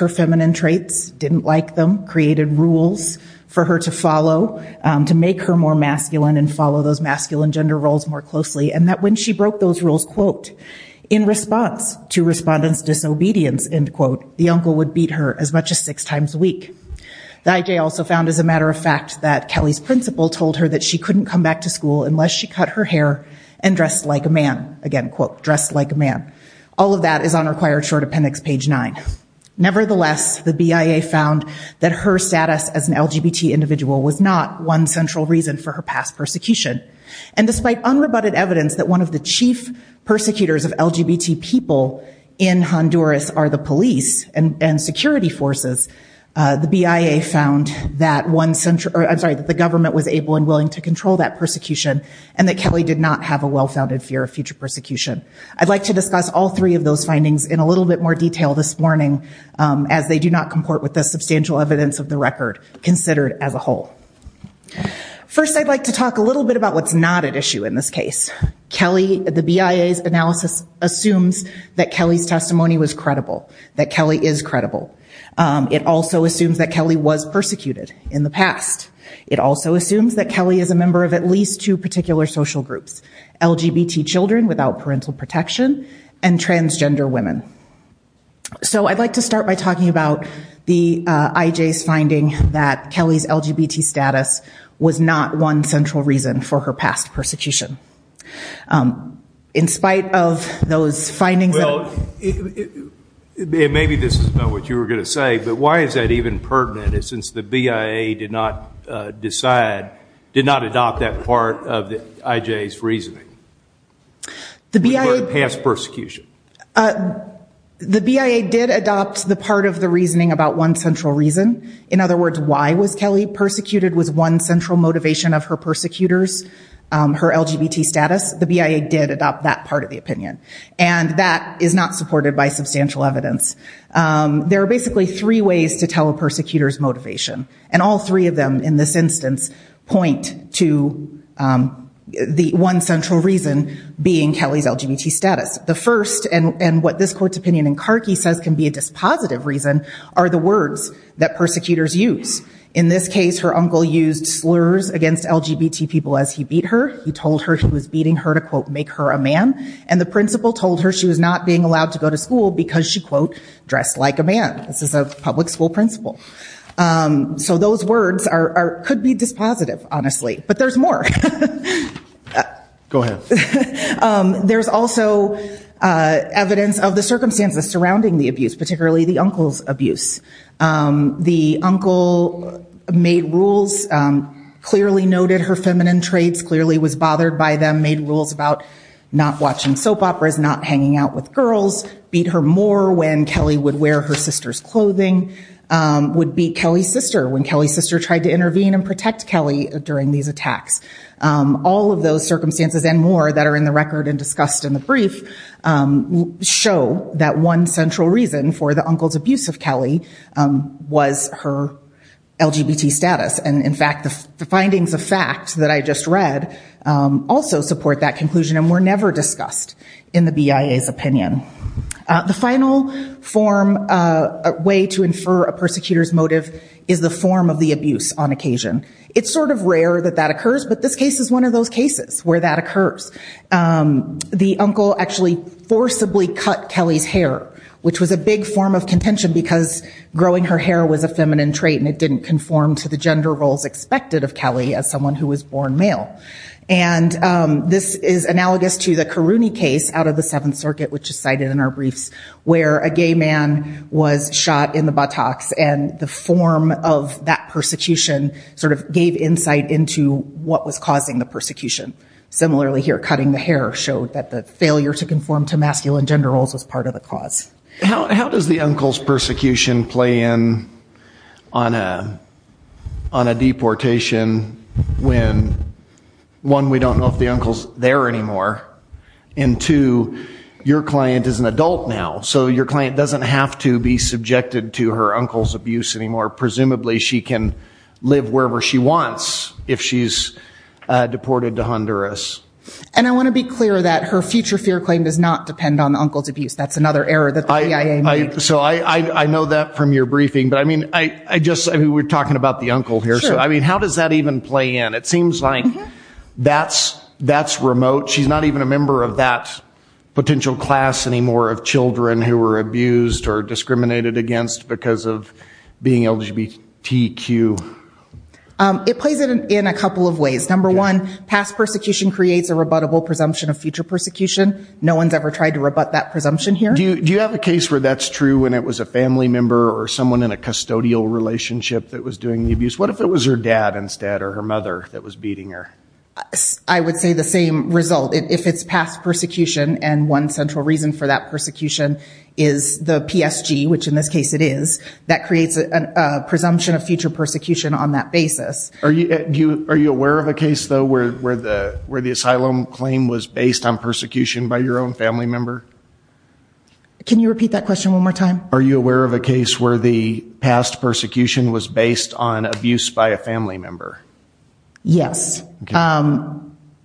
her feminine traits, didn't like them, created rules for her to follow, to make her more masculine and follow those masculine gender roles more closely, and that when she broke those rules, quote, in response to respondents' disobedience, end quote, the uncle would beat her as much as six times a week. The IJ also found, as a matter of fact, that Kelly's principal told her that she couldn't come back to school unless she cut her hair and dressed like a man, again, quote, dressed like a man. All of that is on required short appendix page nine. Nevertheless, the BIA found that her status as an LGBT individual was not one central reason for her past persecution. And despite unrebutted evidence that one of the chief persecutors of LGBT people in Honduras are the police and security forces, the BIA found that one, I'm sorry, that the government was able and willing to control that persecution and that Kelly did not have a well-founded fear of future persecution. I'd like to discuss all three of those findings in a little bit more detail this morning as they do not comport with the substantial evidence of the record considered as a whole. First, I'd like to talk a little bit about what's not at issue in this case. Kelly, the BIA's analysis assumes that Kelly's testimony was credible, that Kelly is credible. It also assumes that Kelly was persecuted in the past. It also assumes that Kelly is a member of at least two particular social groups, LGBT children without parental protection and transgender women. So I'd like to start by talking about the IJ's finding that Kelly's LGBT status was not one central reason for her past persecution. In spite of those findings that... Well, maybe this is not what you were going to say, but why is that even pertinent since the BIA did not decide, did not adopt that part of the IJ's reasoning for the past persecution? The BIA did adopt the part of the reasoning about one central reason. In other words, why was Kelly persecuted was one central motivation of her persecutors, her LGBT status. The BIA did adopt that part of the opinion. And that is not supported by substantial evidence. There are basically three ways to tell a persecutor's motivation. And all three of them in this instance point to the one central reason being Kelly's LGBT status. The first, and what this court's opinion in Carkey says can be a dispositive reason, are the words that persecutors use. In this case, her uncle used slurs against LGBT people as he beat her. He told her he was beating her to, quote, make her a man. And the principal told her she was not being allowed to go to school because she, quote, dressed like a man. This is a public school principal. So those words could be dispositive, honestly. But there's more. There's also evidence of the circumstances surrounding the abuse, particularly the uncle's abuse. The uncle made rules, clearly noted her feminine traits, clearly was bothered by them, made rules about not watching soap operas, not hanging out with girls, beat her more when Kelly would wear her sister's clothing, would beat Kelly's sister when Kelly's sister tried to intervene and protect Kelly during these attacks. All of those circumstances and more that are in the record and discussed in the brief show that one central reason for the uncle's abuse of Kelly was her LGBT status. And in fact, the findings of fact that I just read also support that conclusion and were never discussed in the BIA's opinion. The final form, way to infer a persecutor's motive is the form of the abuse on occasion. It's sort of rare that that occurs, but this case is one of those cases where that occurs. The uncle actually forcibly cut Kelly's hair, which was a big form of contention because growing her hair was a feminine trait and it didn't conform to the gender roles expected of Kelly as someone who was born male. And this is analogous to the Karouni case out of the Seventh Circuit, which is cited in our briefs, where a gay man was shot in the buttocks and the form of that persecution sort of gave insight into what was causing the persecution. Similarly here, cutting the hair showed that the failure to conform to masculine gender roles was part of the cause. How does the uncle's persecution play in on a deportation when, one, we don't know if the uncle's there anymore, and two, your client is an adult now, so your client doesn't have to be subjected to her uncle's abuse anymore. Presumably she can live wherever she wants if she's deported to Honduras. And I want to be clear that her future fear claim does not depend on the uncle's abuse. That's another error that the CIA made. So I know that from your briefing, but I mean, I just, I mean, we're talking about the uncle here, so I mean, how does that even play in? It seems like that's remote. She's not even a member of that potential class anymore of children who were abused or discriminated against because of being LGBTQ. It plays in a couple of ways. Number one, past persecution creates a rebuttable presumption of future persecution. No one's ever tried to rebut that presumption here. Do you have a case where that's true when it was a family member or someone in a custodial relationship that was doing the abuse? What if it was her dad instead or her mother that was beating her? I would say the same result. If it's past persecution and one central reason for that persecution is the PSG, which in this case it is, that creates a presumption of future persecution on that basis. Are you aware of a case though, where the asylum claim was based on persecution by your own family member? Can you repeat that question one more time? Are you aware of a case where the past persecution was based on abuse by a family member? Yes.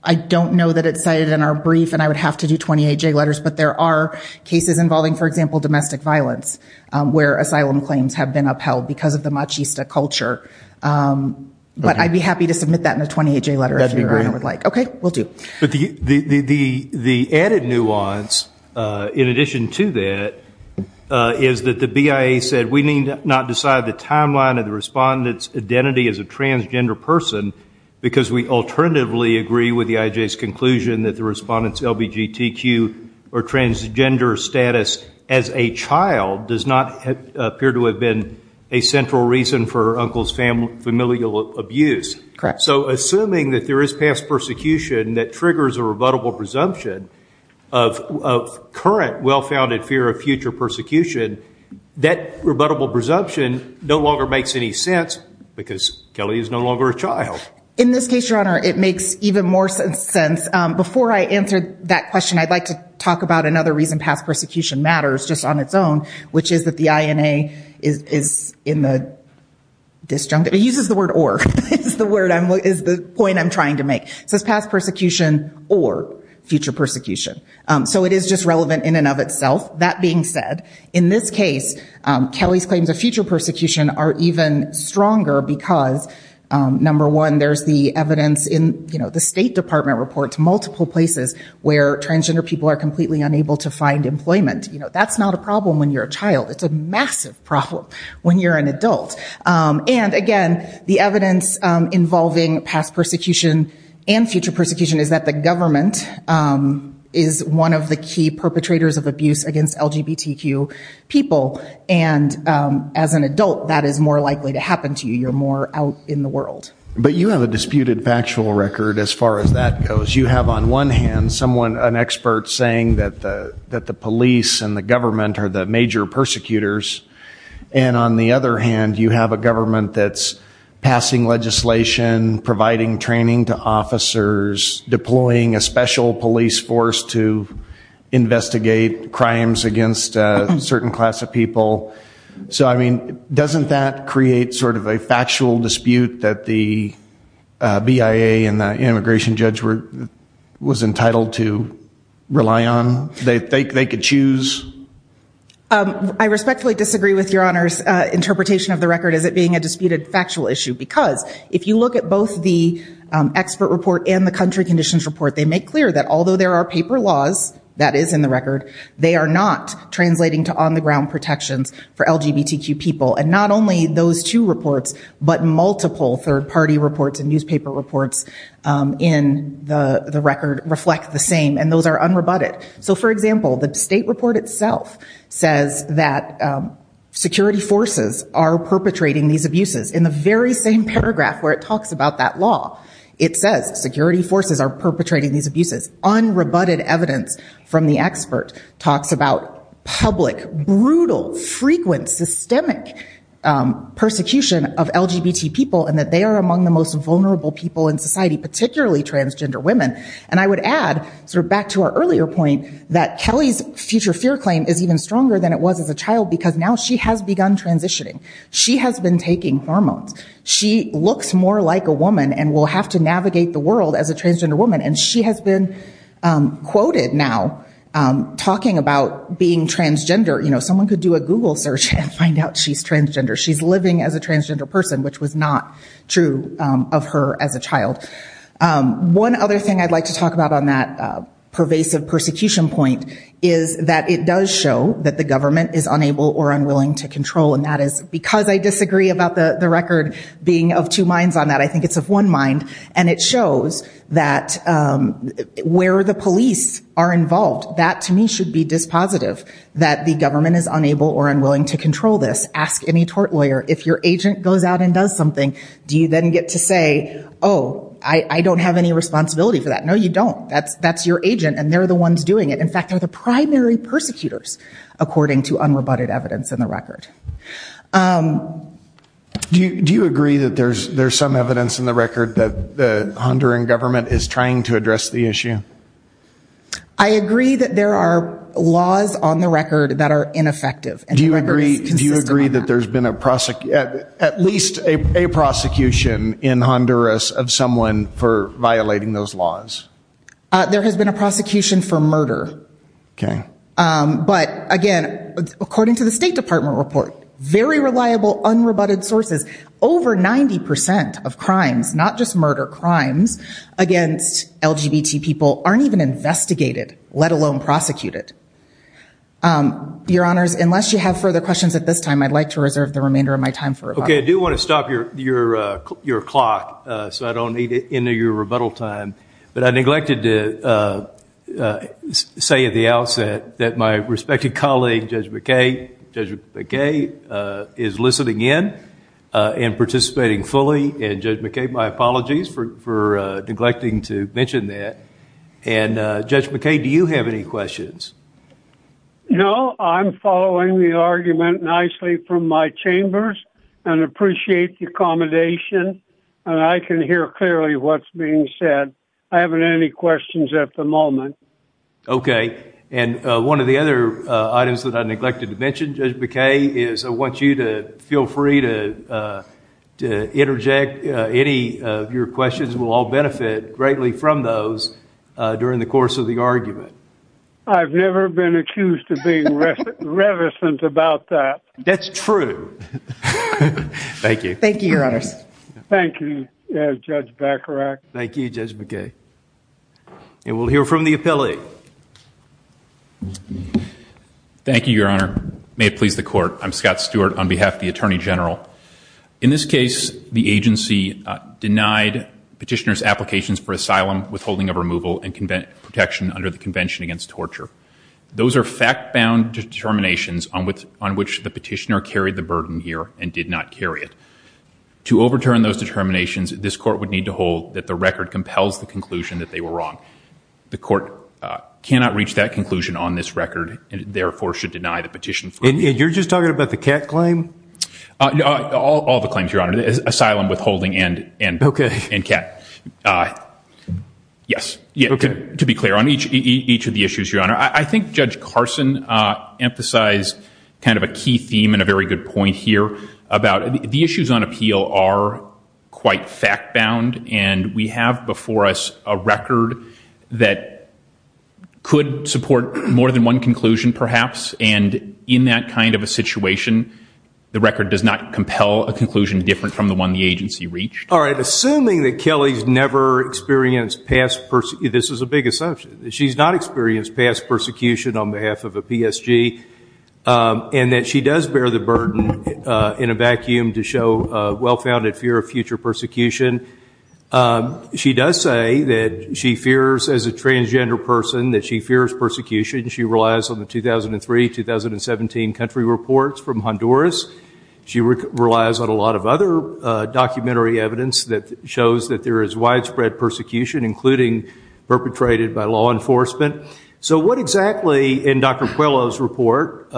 I don't know that it's cited in our brief and I would have to do 28 J letters, but there are cases involving, for example, domestic violence, where asylum claims have been upheld because of the machista culture. But I'd be happy to submit that in a 28 J letter if your honor would like. That'd be great. Okay. We'll do. But the added nuance, in addition to that, is that the BIA said we need not decide the timeline of the respondent's identity as a transgender person because we alternatively agree with the IJ's conclusion that the respondent's LBGTQ or transgender status as a child does not appear to have been a central reason for her uncle's familial abuse. Correct. So assuming that there is past persecution that triggers a rebuttable presumption of current well-founded fear of future persecution, that rebuttable presumption no longer makes any sense because Kelly is no longer a child. In this case, your honor, it makes even more sense. Before I answer that question, I'd like to talk about another reason past persecution matters just on its own, which is that the INA is in the disjunct. It uses the word or. It's the word I'm, is the point I'm trying to make. It says past persecution or future persecution. So it is just relevant in and of itself. That being said, in this case, Kelly's claims of future persecution are even stronger because, number one, there's the evidence in, you know, the State Department reports multiple places where transgender people are completely unable to find employment. You know, that's not a problem when you're a child. It's a massive problem when you're an adult. And again, the evidence involving past persecution and future persecution is that the government is one of the key perpetrators of abuse against LGBTQ people. And as an adult, that is more likely to happen to you. You're more out in the world. But you have a disputed factual record as far as that goes. You have on one hand someone, an expert saying that the police and the government are the major persecutors. And on the other hand, you have a government that's passing legislation, providing training to officers, deploying a special police force to investigate crimes against a certain class of people. So, I mean, doesn't that create sort of a factual dispute that the BIA and the immigration judge was entitled to rely on? They could choose? I respectfully disagree with Your Honor's interpretation of the record as it being a disputed factual issue. Because if you look at both the expert report and the country conditions report, they make clear that although there are paper laws, that is in the record, they are not translating to on the ground protections for LGBTQ people. And not only those two reports, but multiple third party reports and newspaper reports in the record reflect the same. And those are unrebutted. So, for example, the state report itself says that security forces are perpetrating these abuses. In the very same paragraph where it talks about that law, it says security forces are perpetrating these abuses. Unrebutted evidence from the expert talks about public, brutal, frequent, systemic persecution of LGBT people and that they are among the most vulnerable people in society, particularly transgender women. And I would add, sort of back to our earlier point, that Kelly's future fear claim is even stronger than it was as a child because now she has begun transitioning. She has been taking hormones. She looks more like a woman and will have to navigate the world. She's quoted now talking about being transgender. You know, someone could do a Google search and find out she's transgender. She's living as a transgender person, which was not true of her as a child. One other thing I'd like to talk about on that pervasive persecution point is that it does show that the government is unable or unwilling to control. And that is because I disagree about the record being of two minds on that, I think it's of one mind, and it shows that where the police are involved, that to me should be dispositive, that the government is unable or unwilling to control this. Ask any tort lawyer, if your agent goes out and does something, do you then get to say, oh, I don't have any responsibility for that? No, you don't. That's your agent and they're the ones doing it. In fact, they're the primary persecutors, according to unrebutted evidence in the record. Do you agree that there's some evidence in the record that the Honduran government is trying to address the issue? I agree that there are laws on the record that are ineffective. Do you agree that there's been at least a prosecution in Honduras of someone for violating those laws? There has been a prosecution for murder, but again, according to the State Department report, very reliable unrebutted sources, over 90% of crimes, not just murder, crimes against LGBT people aren't even investigated, let alone prosecuted. Your Honors, unless you have further questions at this time, I'd like to reserve the remainder of my time for rebuttal. Okay, I do want to stop your clock so I don't need to end your rebuttal time, but I neglected to say at the outset that my respected colleague Judge McKay is listening in and participating fully. Judge McKay, my apologies for neglecting to mention that. Judge McKay, do you have any questions? No, I'm following the argument nicely from my chambers and appreciate the accommodation and I can hear clearly what's being said. I haven't any questions at the moment. Okay, and one of the other items that I neglected to mention, Judge McKay, is I want you to feel free to interject any of your questions. We'll all benefit greatly from those during the course of the argument. I've never been accused of being revesant about that. That's true. Thank you. Thank you, Your Honors. Thank you, Judge Bacharach. Thank you, Judge McKay. And we'll hear from the appellate. Thank you, Your Honor. May it please the Court. I'm Scott Stewart on behalf of the Attorney General. In this case, the agency denied petitioner's applications for asylum, withholding of removal, and protection under the Convention Against Torture. Those are fact-bound determinations on which the petitioner carried the burden here and did not carry it. To overturn those determinations, this Court would need to hold that the record compels the conclusion that they were wrong. The Court cannot reach that conclusion on this record and therefore should deny the petition. And you're just talking about the Kat claim? All the claims, Your Honor. Asylum, withholding, and Kat. Yes, to be clear on each of the issues, Your Honor. I think Judge Carson emphasized kind of a key theme and a very good point here about the issues on appeal are quite fact-bound. And we have before us a record that could support more than one conclusion, perhaps. And in that kind of a situation, the record does not compel a conclusion different from the one the agency reached. All right. Assuming that Kelly's never experienced past per- this is a big assumption. She's not experienced past persecution on behalf of a PSG. And that she does bear the burden in a vacuum to show a well-founded fear of future persecution. She does say that she fears as a transgender person that she fears persecution. She relies on the 2003-2017 country reports from Honduras. She relies on a lot of other documentary evidence that shows that there is widespread persecution, including perpetrated by law enforcement. So what exactly in Dr. Puello's report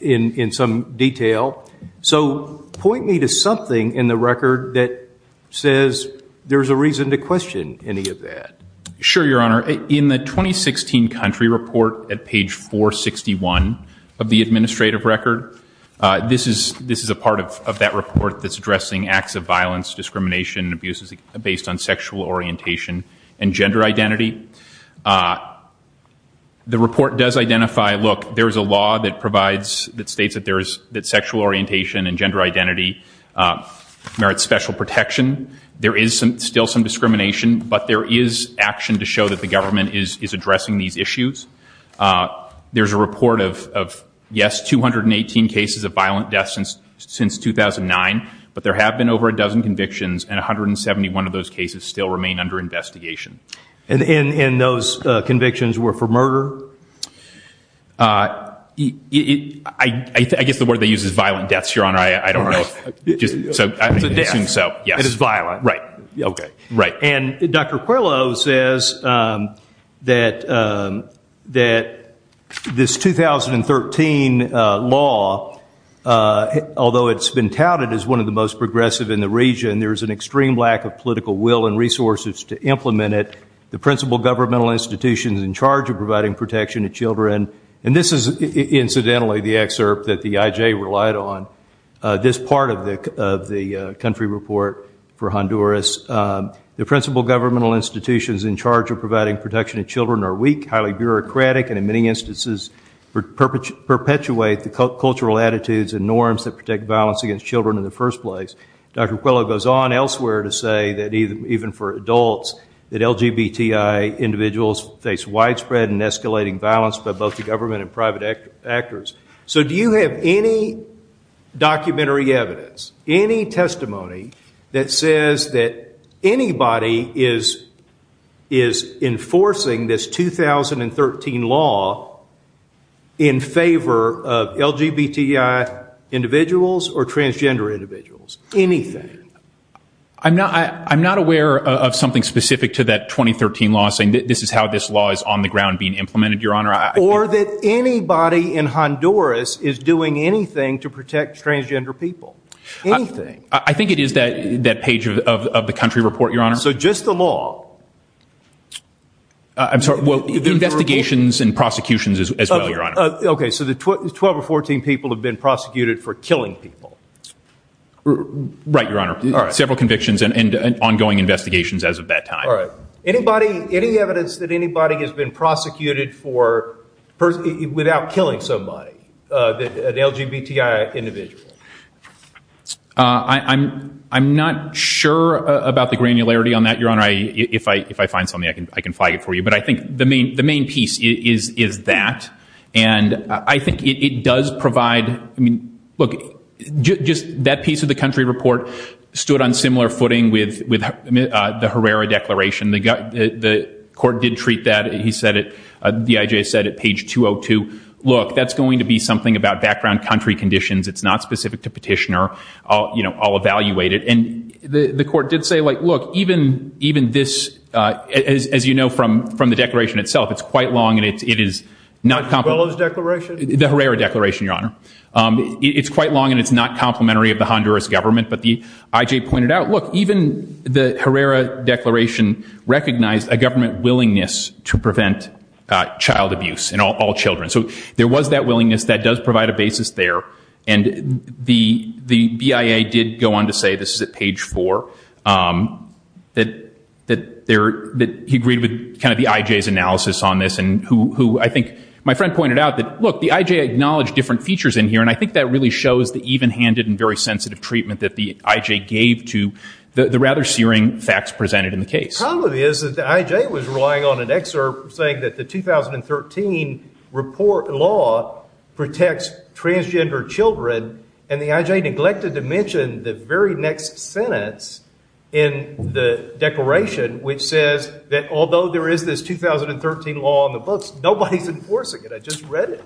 in some detail? So point me to something in the record that says there's a reason to question any of that. Sure, Your Honor. In the 2016 country report at page 461 of the administrative record, this is a part of that report that's addressing acts of violence, discrimination, and abuse based on sexual orientation and gender identity. The report does identify, look, there's a law that provides- that states that there is- that sexual orientation and gender identity merits special protection. There is still some discrimination, but there is action to show that the government is addressing these issues. There's a report of, yes, 218 cases of violent deaths since 2009, but there have been over a dozen convictions, and 171 of those cases still remain under investigation. And those convictions were for murder? I guess the word they use is violent deaths, Your Honor. I don't know. It's a death. It is violent. Right. Okay. Right. Although it's been touted as one of the most progressive in the region, there's an extreme lack of political will and resources to implement it. The principal governmental institutions in charge of providing protection to children, and this is incidentally the excerpt that the IJ relied on, this part of the country report for Honduras, the principal governmental institutions in charge of providing protection to children are weak, highly bureaucratic, and in many instances perpetuate the cultural attitudes and norms that protect violence against children in the first place. Dr. Coelho goes on elsewhere to say that even for adults that LGBTI individuals face widespread and escalating violence by both the government and private actors. So do you have any documentary evidence, any testimony that says that anybody is enforcing this 2013 law in favor of LGBTI individuals or transgender individuals? Anything? I'm not aware of something specific to that 2013 law saying this is how this law is on the ground being implemented, Your Honor. Or that anybody in Honduras is doing anything to protect transgender people? Anything? I think it is that page of the country report, Your Honor. So just the law? I'm sorry. Well, investigations and prosecutions as well, Your Honor. Okay. So the 12 or 14 people have been prosecuted for killing people? Right, Your Honor. Several convictions and ongoing investigations as of that time. All right. Any evidence that anybody has been prosecuted without killing somebody, an LGBTI individual? I'm not sure about the granularity on that, Your Honor. If I find something, I can flag it for you. But I think the main piece is that. And I think it does provide, I mean, look, just that piece of the country report stood on similar footing with the Herrera Declaration. The court did treat that, he said it, the IJ said it, page 202. Look, that's going to be something about background country conditions. It's not specific to petitioner. I'll evaluate it. And the court did say, look, even this, as you know from the declaration itself, it's quite long and it is not complimentary. Not as well as the declaration? The Herrera Declaration, Your Honor. It's quite long and it's not complementary of the Honduras government. But the IJ pointed out, look, even the Herrera Declaration recognized a government willingness to prevent child abuse in all children. So there was that willingness. That does provide a basis there. And the BIA did go on to say, this is at page four, that he agreed with kind of the IJ's analysis on this. And who I think, my friend pointed out that, look, the IJ acknowledged different features in here. And I think that really shows the even-handed and very sensitive treatment that the IJ gave to the rather searing facts presented in the case. The problem is that the IJ was relying on an excerpt saying that the 2013 report law protects transgender children. And the IJ neglected to mention the very next sentence in the declaration, which says that although there is this 2013 law on the books, nobody's enforcing it. I just read it.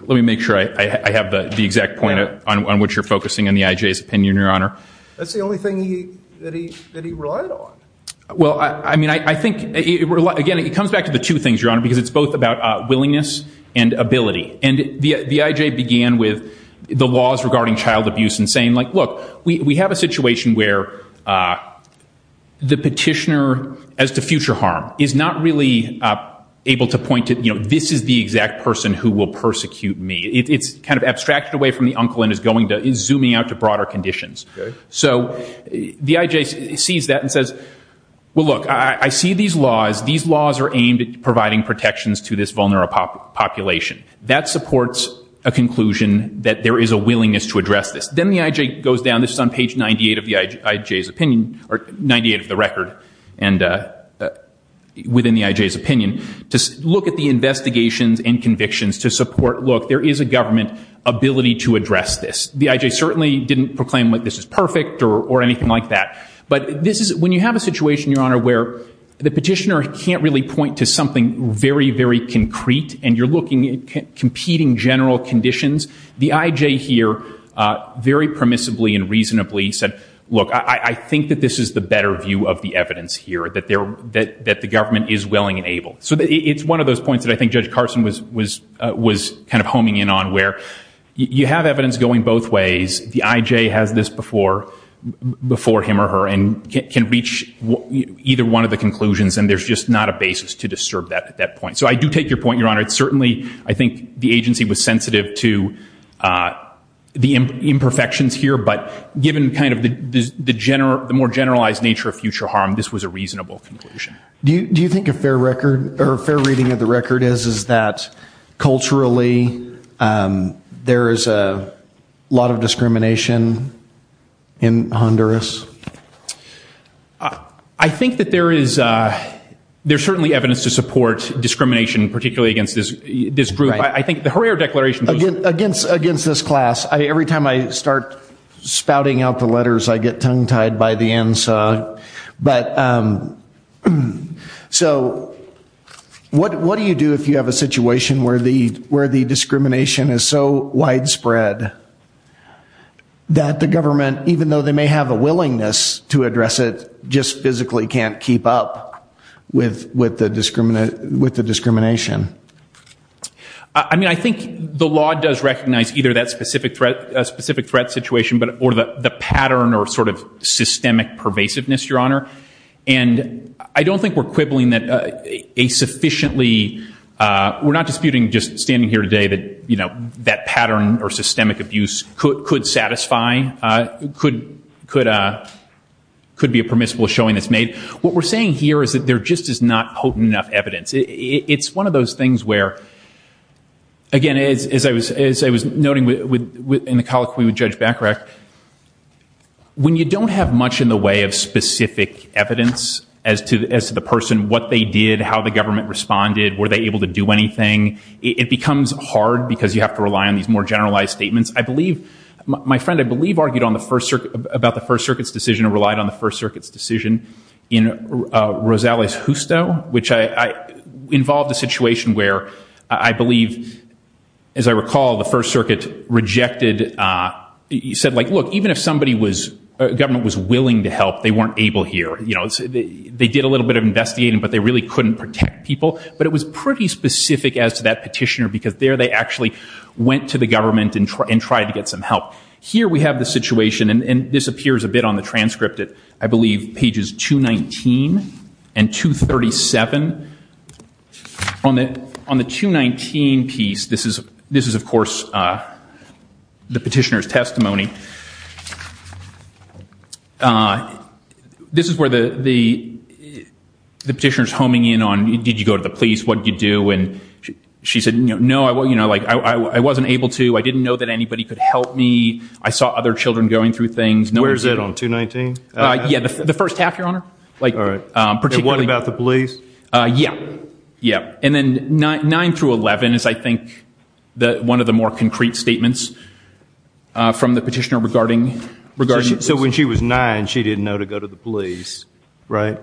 Let me make sure I have the exact point on which you're focusing on the IJ's opinion, Your Honor. That's the only thing that he relied on. Well, I mean, I think, again, it comes back to the two things, Your Honor, because it's both about willingness and ability. And the IJ began with the laws regarding child abuse and saying, look, we have a situation where the petitioner as to future harm is not really able to point to this is the exact person who will persecute me. It's kind of abstracted away from the uncle and is zooming out to broader conditions. So the IJ sees that and says, well, look, I see these laws. These laws are aimed at providing protections to this vulnerable population. That supports a conclusion that there is a willingness to address this. Then the IJ goes down, this is on page 98 of the record within the IJ's opinion, to look at the investigations and convictions to support, look, there is a government ability to address this. The IJ certainly didn't proclaim that this is perfect or anything like that. But when you have a situation, Your Honor, where the petitioner can't really point to something very, very concrete and you're looking at competing general conditions, the IJ here very permissibly and reasonably said, look, I think that this is the better view of the evidence here, that the government is willing and able. So it's one of those points that I think Judge Carson was kind of homing in on, where you have evidence going both ways. The IJ has this before him or her and can reach either one of the conclusions. And there's just not a basis to disturb that at that point. So I do take your point, Your Honor. It's certainly, I think, the agency was sensitive to the imperfections here. But given kind of the more generalized nature of future harm, this was a reasonable conclusion. Do you think a fair record or a fair reading of the record is, is that culturally there is a lot of discrimination in Honduras? I think that there is, there's certainly evidence to support discrimination, particularly against this group. I think the Herrera Declaration... Against this class. Every time I start spouting out the letters, I get tongue-tied by the So what do you do if you have a situation where the, where the discrimination is so widespread that the government, even though they may have a willingness to address it, just physically can't keep up with, with the discriminate, with the discrimination? I mean, I think the law does recognize either that specific threat, a specific threat situation, or the pattern or sort of systemic pervasiveness, Your Honor. And I don't think we're quibbling that a sufficiently, we're not disputing just standing here today that, you know, that pattern or systemic abuse could satisfy, could be a permissible showing that's made. What we're saying here is that there just is not potent enough evidence. It's one of those things where, again, as I was, as I was noting in the colloquy with Judge Bacharach, when you don't have much in the way of specific evidence as to the person, what they did, how the government responded, were they able to do anything? It becomes hard because you have to rely on these more generalized statements. I believe, my friend, I believe argued on the First Circuit, about the First Circuit's decision or relied on the First Circuit's decision in Rosales-Justo, which involved a situation where, I believe, as I recall, the First Circuit rejected, said like, look, even if somebody was, government was willing to help, they weren't able here. You know, they did a little bit of investigating, but they really couldn't protect people. But it was pretty specific as to that petitioner because there they actually went to the government and tried to get some help. Here we have the situation, and this appears a bit on the transcript at, I believe, pages 219 and 237. On the 219 piece, this is, of course, the petitioner's testimony. This is where the petitioner's homing in on, did you go to the police? What did you do? And she said, no, I wasn't able to. I didn't know that anybody could help me. I saw other children going through things. Where is it, on 219? Yeah, the first half, Your Honor. And what about the police? Yeah, yeah. And then 9 through 11 is, I think, one of the more concrete statements from the petitioner regarding the police. So when she was nine, she didn't know to go to the police, right?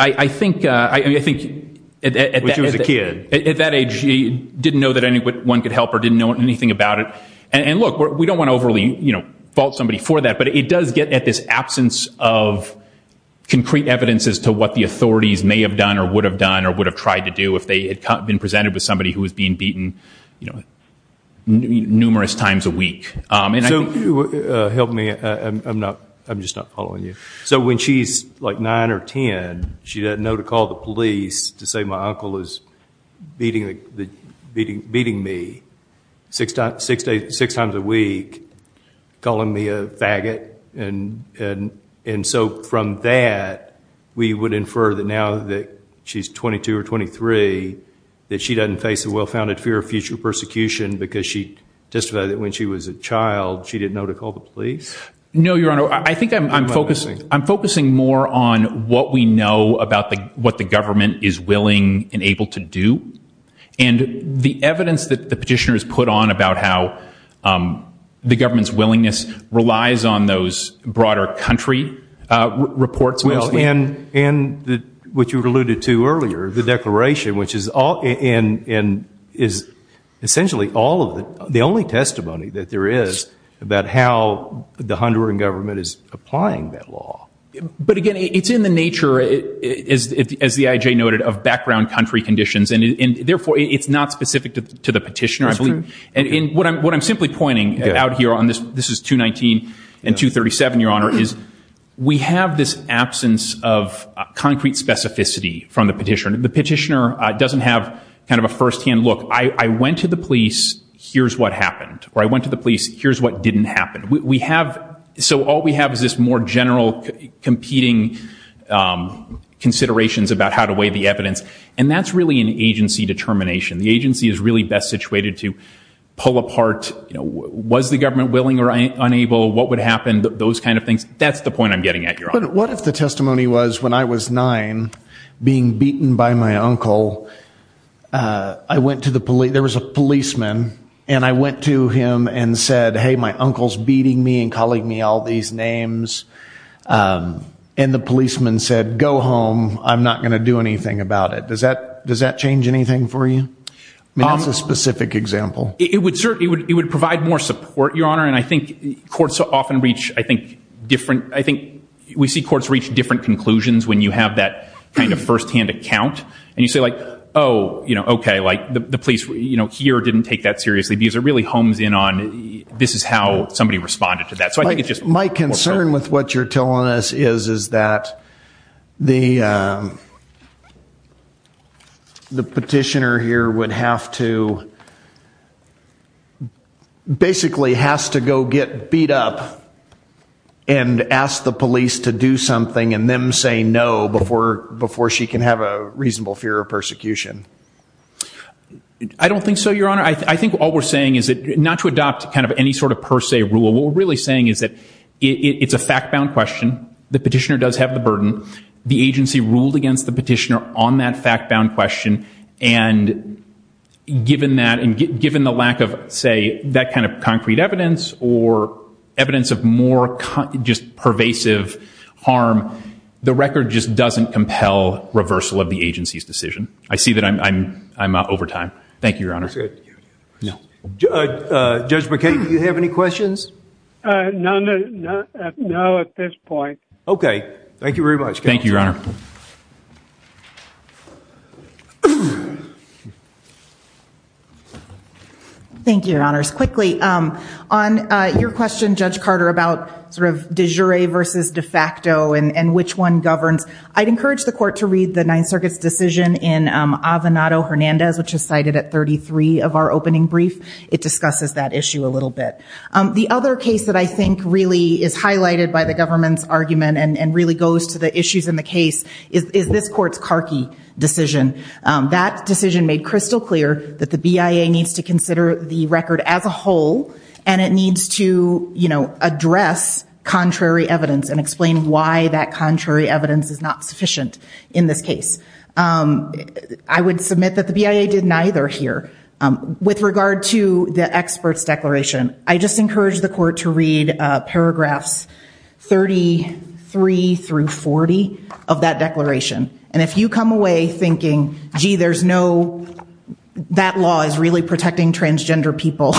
I think at that age, she didn't know that anyone could help her, didn't know anything about it. And look, we don't want to overly fault somebody for that, but it does get at this absence of concrete evidence as to what the authorities may have done or would have done or would have tried to do if they had been presented with somebody who was being beaten numerous times a week. So help me. I'm just not following you. So when she's like nine or 10, she doesn't know to call the police to say my uncle is beating me six times a week, calling me a faggot. And so from that, we would infer that now that she's 22 or 23, that she doesn't face a well-founded fear of future persecution because she testified that when she was a child, she didn't know to call the police? No, Your Honor. I think I'm focusing more on what we know about what the government is willing and able to do. And the evidence that the petitioner has put on about how the government's willingness relies on those broader country reports mostly. Well, and what you alluded to earlier, the declaration, which is essentially the only thing that the Honduran government is applying that law. But again, it's in the nature, as the IJ noted, of background country conditions. And therefore, it's not specific to the petitioner. And what I'm simply pointing out here on this, this is 219 and 237, Your Honor, is we have this absence of concrete specificity from the petitioner. The petitioner doesn't have kind of a firsthand look. I went to the police. Here's what happened. Or I went to the police. Here's what didn't happen. So all we have is this more general competing considerations about how to weigh the evidence. And that's really an agency determination. The agency is really best situated to pull apart, was the government willing or unable? What would happen? Those kind of things. That's the point I'm getting at, Your Honor. What if the testimony was, when I was nine, being beaten by my uncle, there was a policeman, and I went to him and said, hey, my uncle's beating me and calling me all these names. And the policeman said, go home. I'm not going to do anything about it. Does that change anything for you? I mean, that's a specific example. It would provide more support, Your Honor. And I think courts often reach, I think, different, I think we see courts reach different conclusions when you have that kind of firsthand account. And you say, oh, okay, the police here didn't take that seriously because it really homes in on, this is how somebody responded to that. So I think it just... My concern with what you're telling us is that the petitioner here would have to, basically has to go get beat up and ask the police to do something and then say no before she can have a reasonable fear of persecution. I don't think so, Your Honor. I think all we're saying is that not to adopt any sort of per se rule. What we're really saying is that it's a fact-bound question. The petitioner does have the burden. The agency ruled against the petitioner on that fact-bound question. And given that, and given the lack of, say, that kind of concrete evidence or evidence of more just pervasive harm, the record just doesn't compel reversal of the agency's decision. I see that I'm over time. Thank you, Your Honor. Judge McKay, do you have any questions? None at this point. Okay. Thank you very much, counsel. Thank you, Your Honor. Thank you, Your Honors. Quickly, on your question, Judge Carter, about sort of de jure versus de facto and which one governs, I'd encourage the court to read the Ninth Circuit's decision in Avenato-Hernandez, which is cited at 33 of our opening brief. It discusses that issue a little bit. The other case that I think really is highlighted by the government's argument and really goes to the issues in the case is this court's Carkey decision. That decision made crystal clear that the BIA needs to consider the record as a whole, and it needs to, you know, address contrary evidence and explain why that contrary evidence is not sufficient in this case. I would submit that the BIA did neither here. With regard to the expert's declaration, I just encourage the court to read paragraphs 33 through 40 of that declaration. And if you come away thinking, gee, there's no, that law is really protecting transgender people,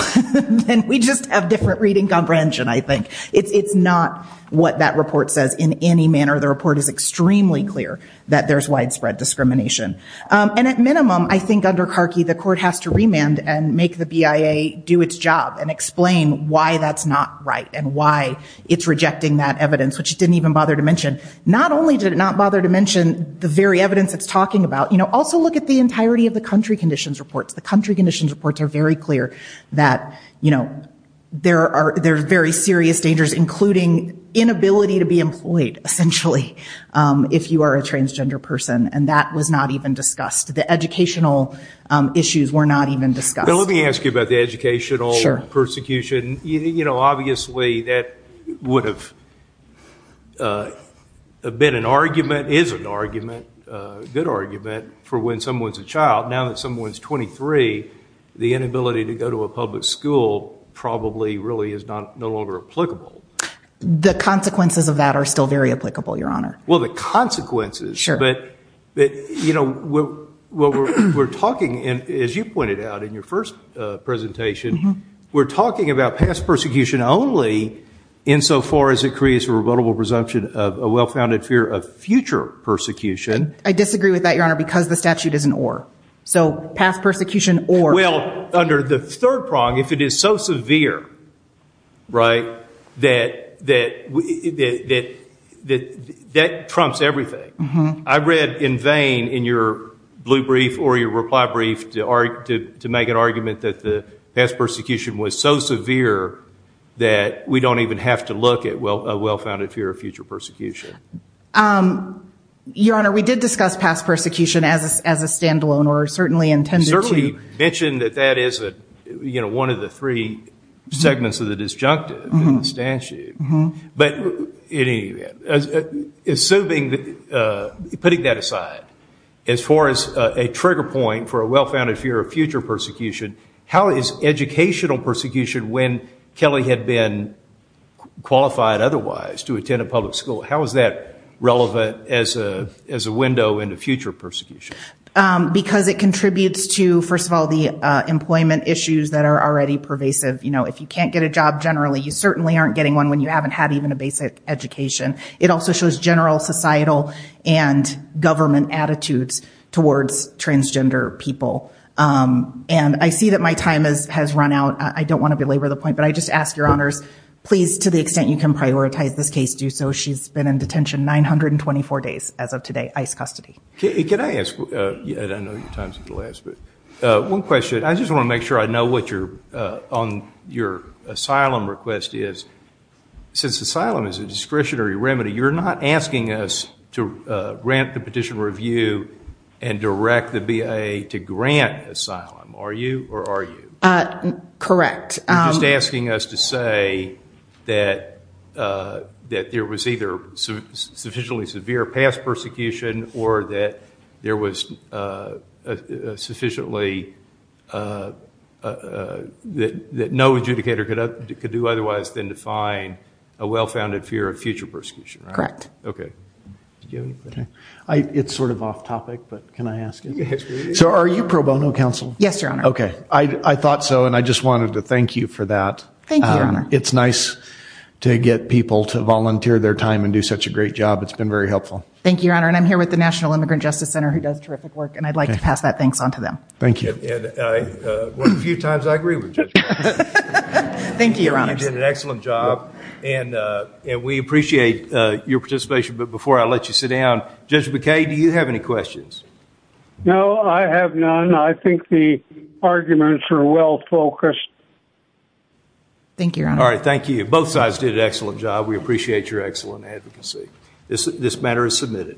then we just have different reading comprehension, I think. It's not what that report says in any manner. The report is extremely clear that there's widespread discrimination. And at minimum, I think under Carkey, the court has to remand and make the BIA do its job and explain why that's not right and why it's rejecting that evidence, which it didn't even bother to mention. Not only did it not bother to mention the very evidence it's talking about, you know, also look at the entirety of the country conditions reports. The country conditions reports are very clear that, you know, there are very serious dangers, including inability to be employed, essentially, if you are a transgender person. And that was not even discussed. The educational issues were not even discussed. Now, let me ask you about the educational persecution. You know, obviously, that would have been an argument, is an argument, a good argument, for when someone's a child. Now that someone's 23, the inability to go to a public school probably really is no longer applicable. The consequences of that are still very applicable, Your Honor. Well, the consequences. But, you know, what we're talking, as you pointed out in your first presentation, we're talking about past persecution only insofar as it creates a rebuttable presumption of a well-founded fear of future persecution. I disagree with that, Your Honor, because the statute is an or. So past persecution or. Well, under the third prong, if it is so severe, right, that trumps everything. I read in vain in your blue brief or your reply brief to make an argument that the past persecution was so severe that we don't even have to look at a well-founded fear of future persecution. Your Honor, we did discuss past persecution as a standalone or certainly intended to. You certainly mentioned that that is one of the three segments of the disjunctive in the statute. But in any event, assuming that, putting that aside, as far as a trigger point for a well-founded fear of future persecution, how is educational persecution when Kelly had been qualified otherwise to attend a public school, how is that relevant as a window into future persecution? Because it contributes to, first of all, the employment issues that are already pervasive. You know, if you can't get a job generally, you certainly aren't getting one when you haven't had even a basic education. It also shows general societal and government attitudes towards transgender people. And I see that my time has run out. I don't want to belabor the point, but I just ask your honors, please, to the extent you can prioritize this case, do so. She's been in detention 924 days as of today, ice custody. Can I ask, and I know your time's at the last minute, one question. I just want to make sure I know what your asylum request is. Since asylum is a discretionary remedy, you're not asking us to grant the petition review and direct the BIA to grant asylum, are you, or are you? Correct. You're just asking us to say that there was either sufficiently severe past persecution or that there was sufficiently, that no adjudicator could do otherwise than to find a well-founded fear of future persecution, right? Correct. Okay. It's sort of off topic, but can I ask it? So are you pro bono counsel? Yes, your honor. Okay. I thought so, and I just wanted to thank you for that. Thank you, your honor. It's nice to get people to volunteer their time and do such a great job. It's been very helpful. Thank you, your honor. And I'm here with the National Immigrant Justice Center who does terrific work, and I'd like to pass that thanks on to them. Thank you. A few times I agree with you. Thank you, your honor. You did an excellent job, and we appreciate your participation. But before I let you sit down, Judge McKay, do you have any questions? No, I have none. I think the arguments are well focused. Thank you, your honor. All right. Thank you. Both sides did an excellent job. We appreciate your excellent advocacy. This matter is submitted.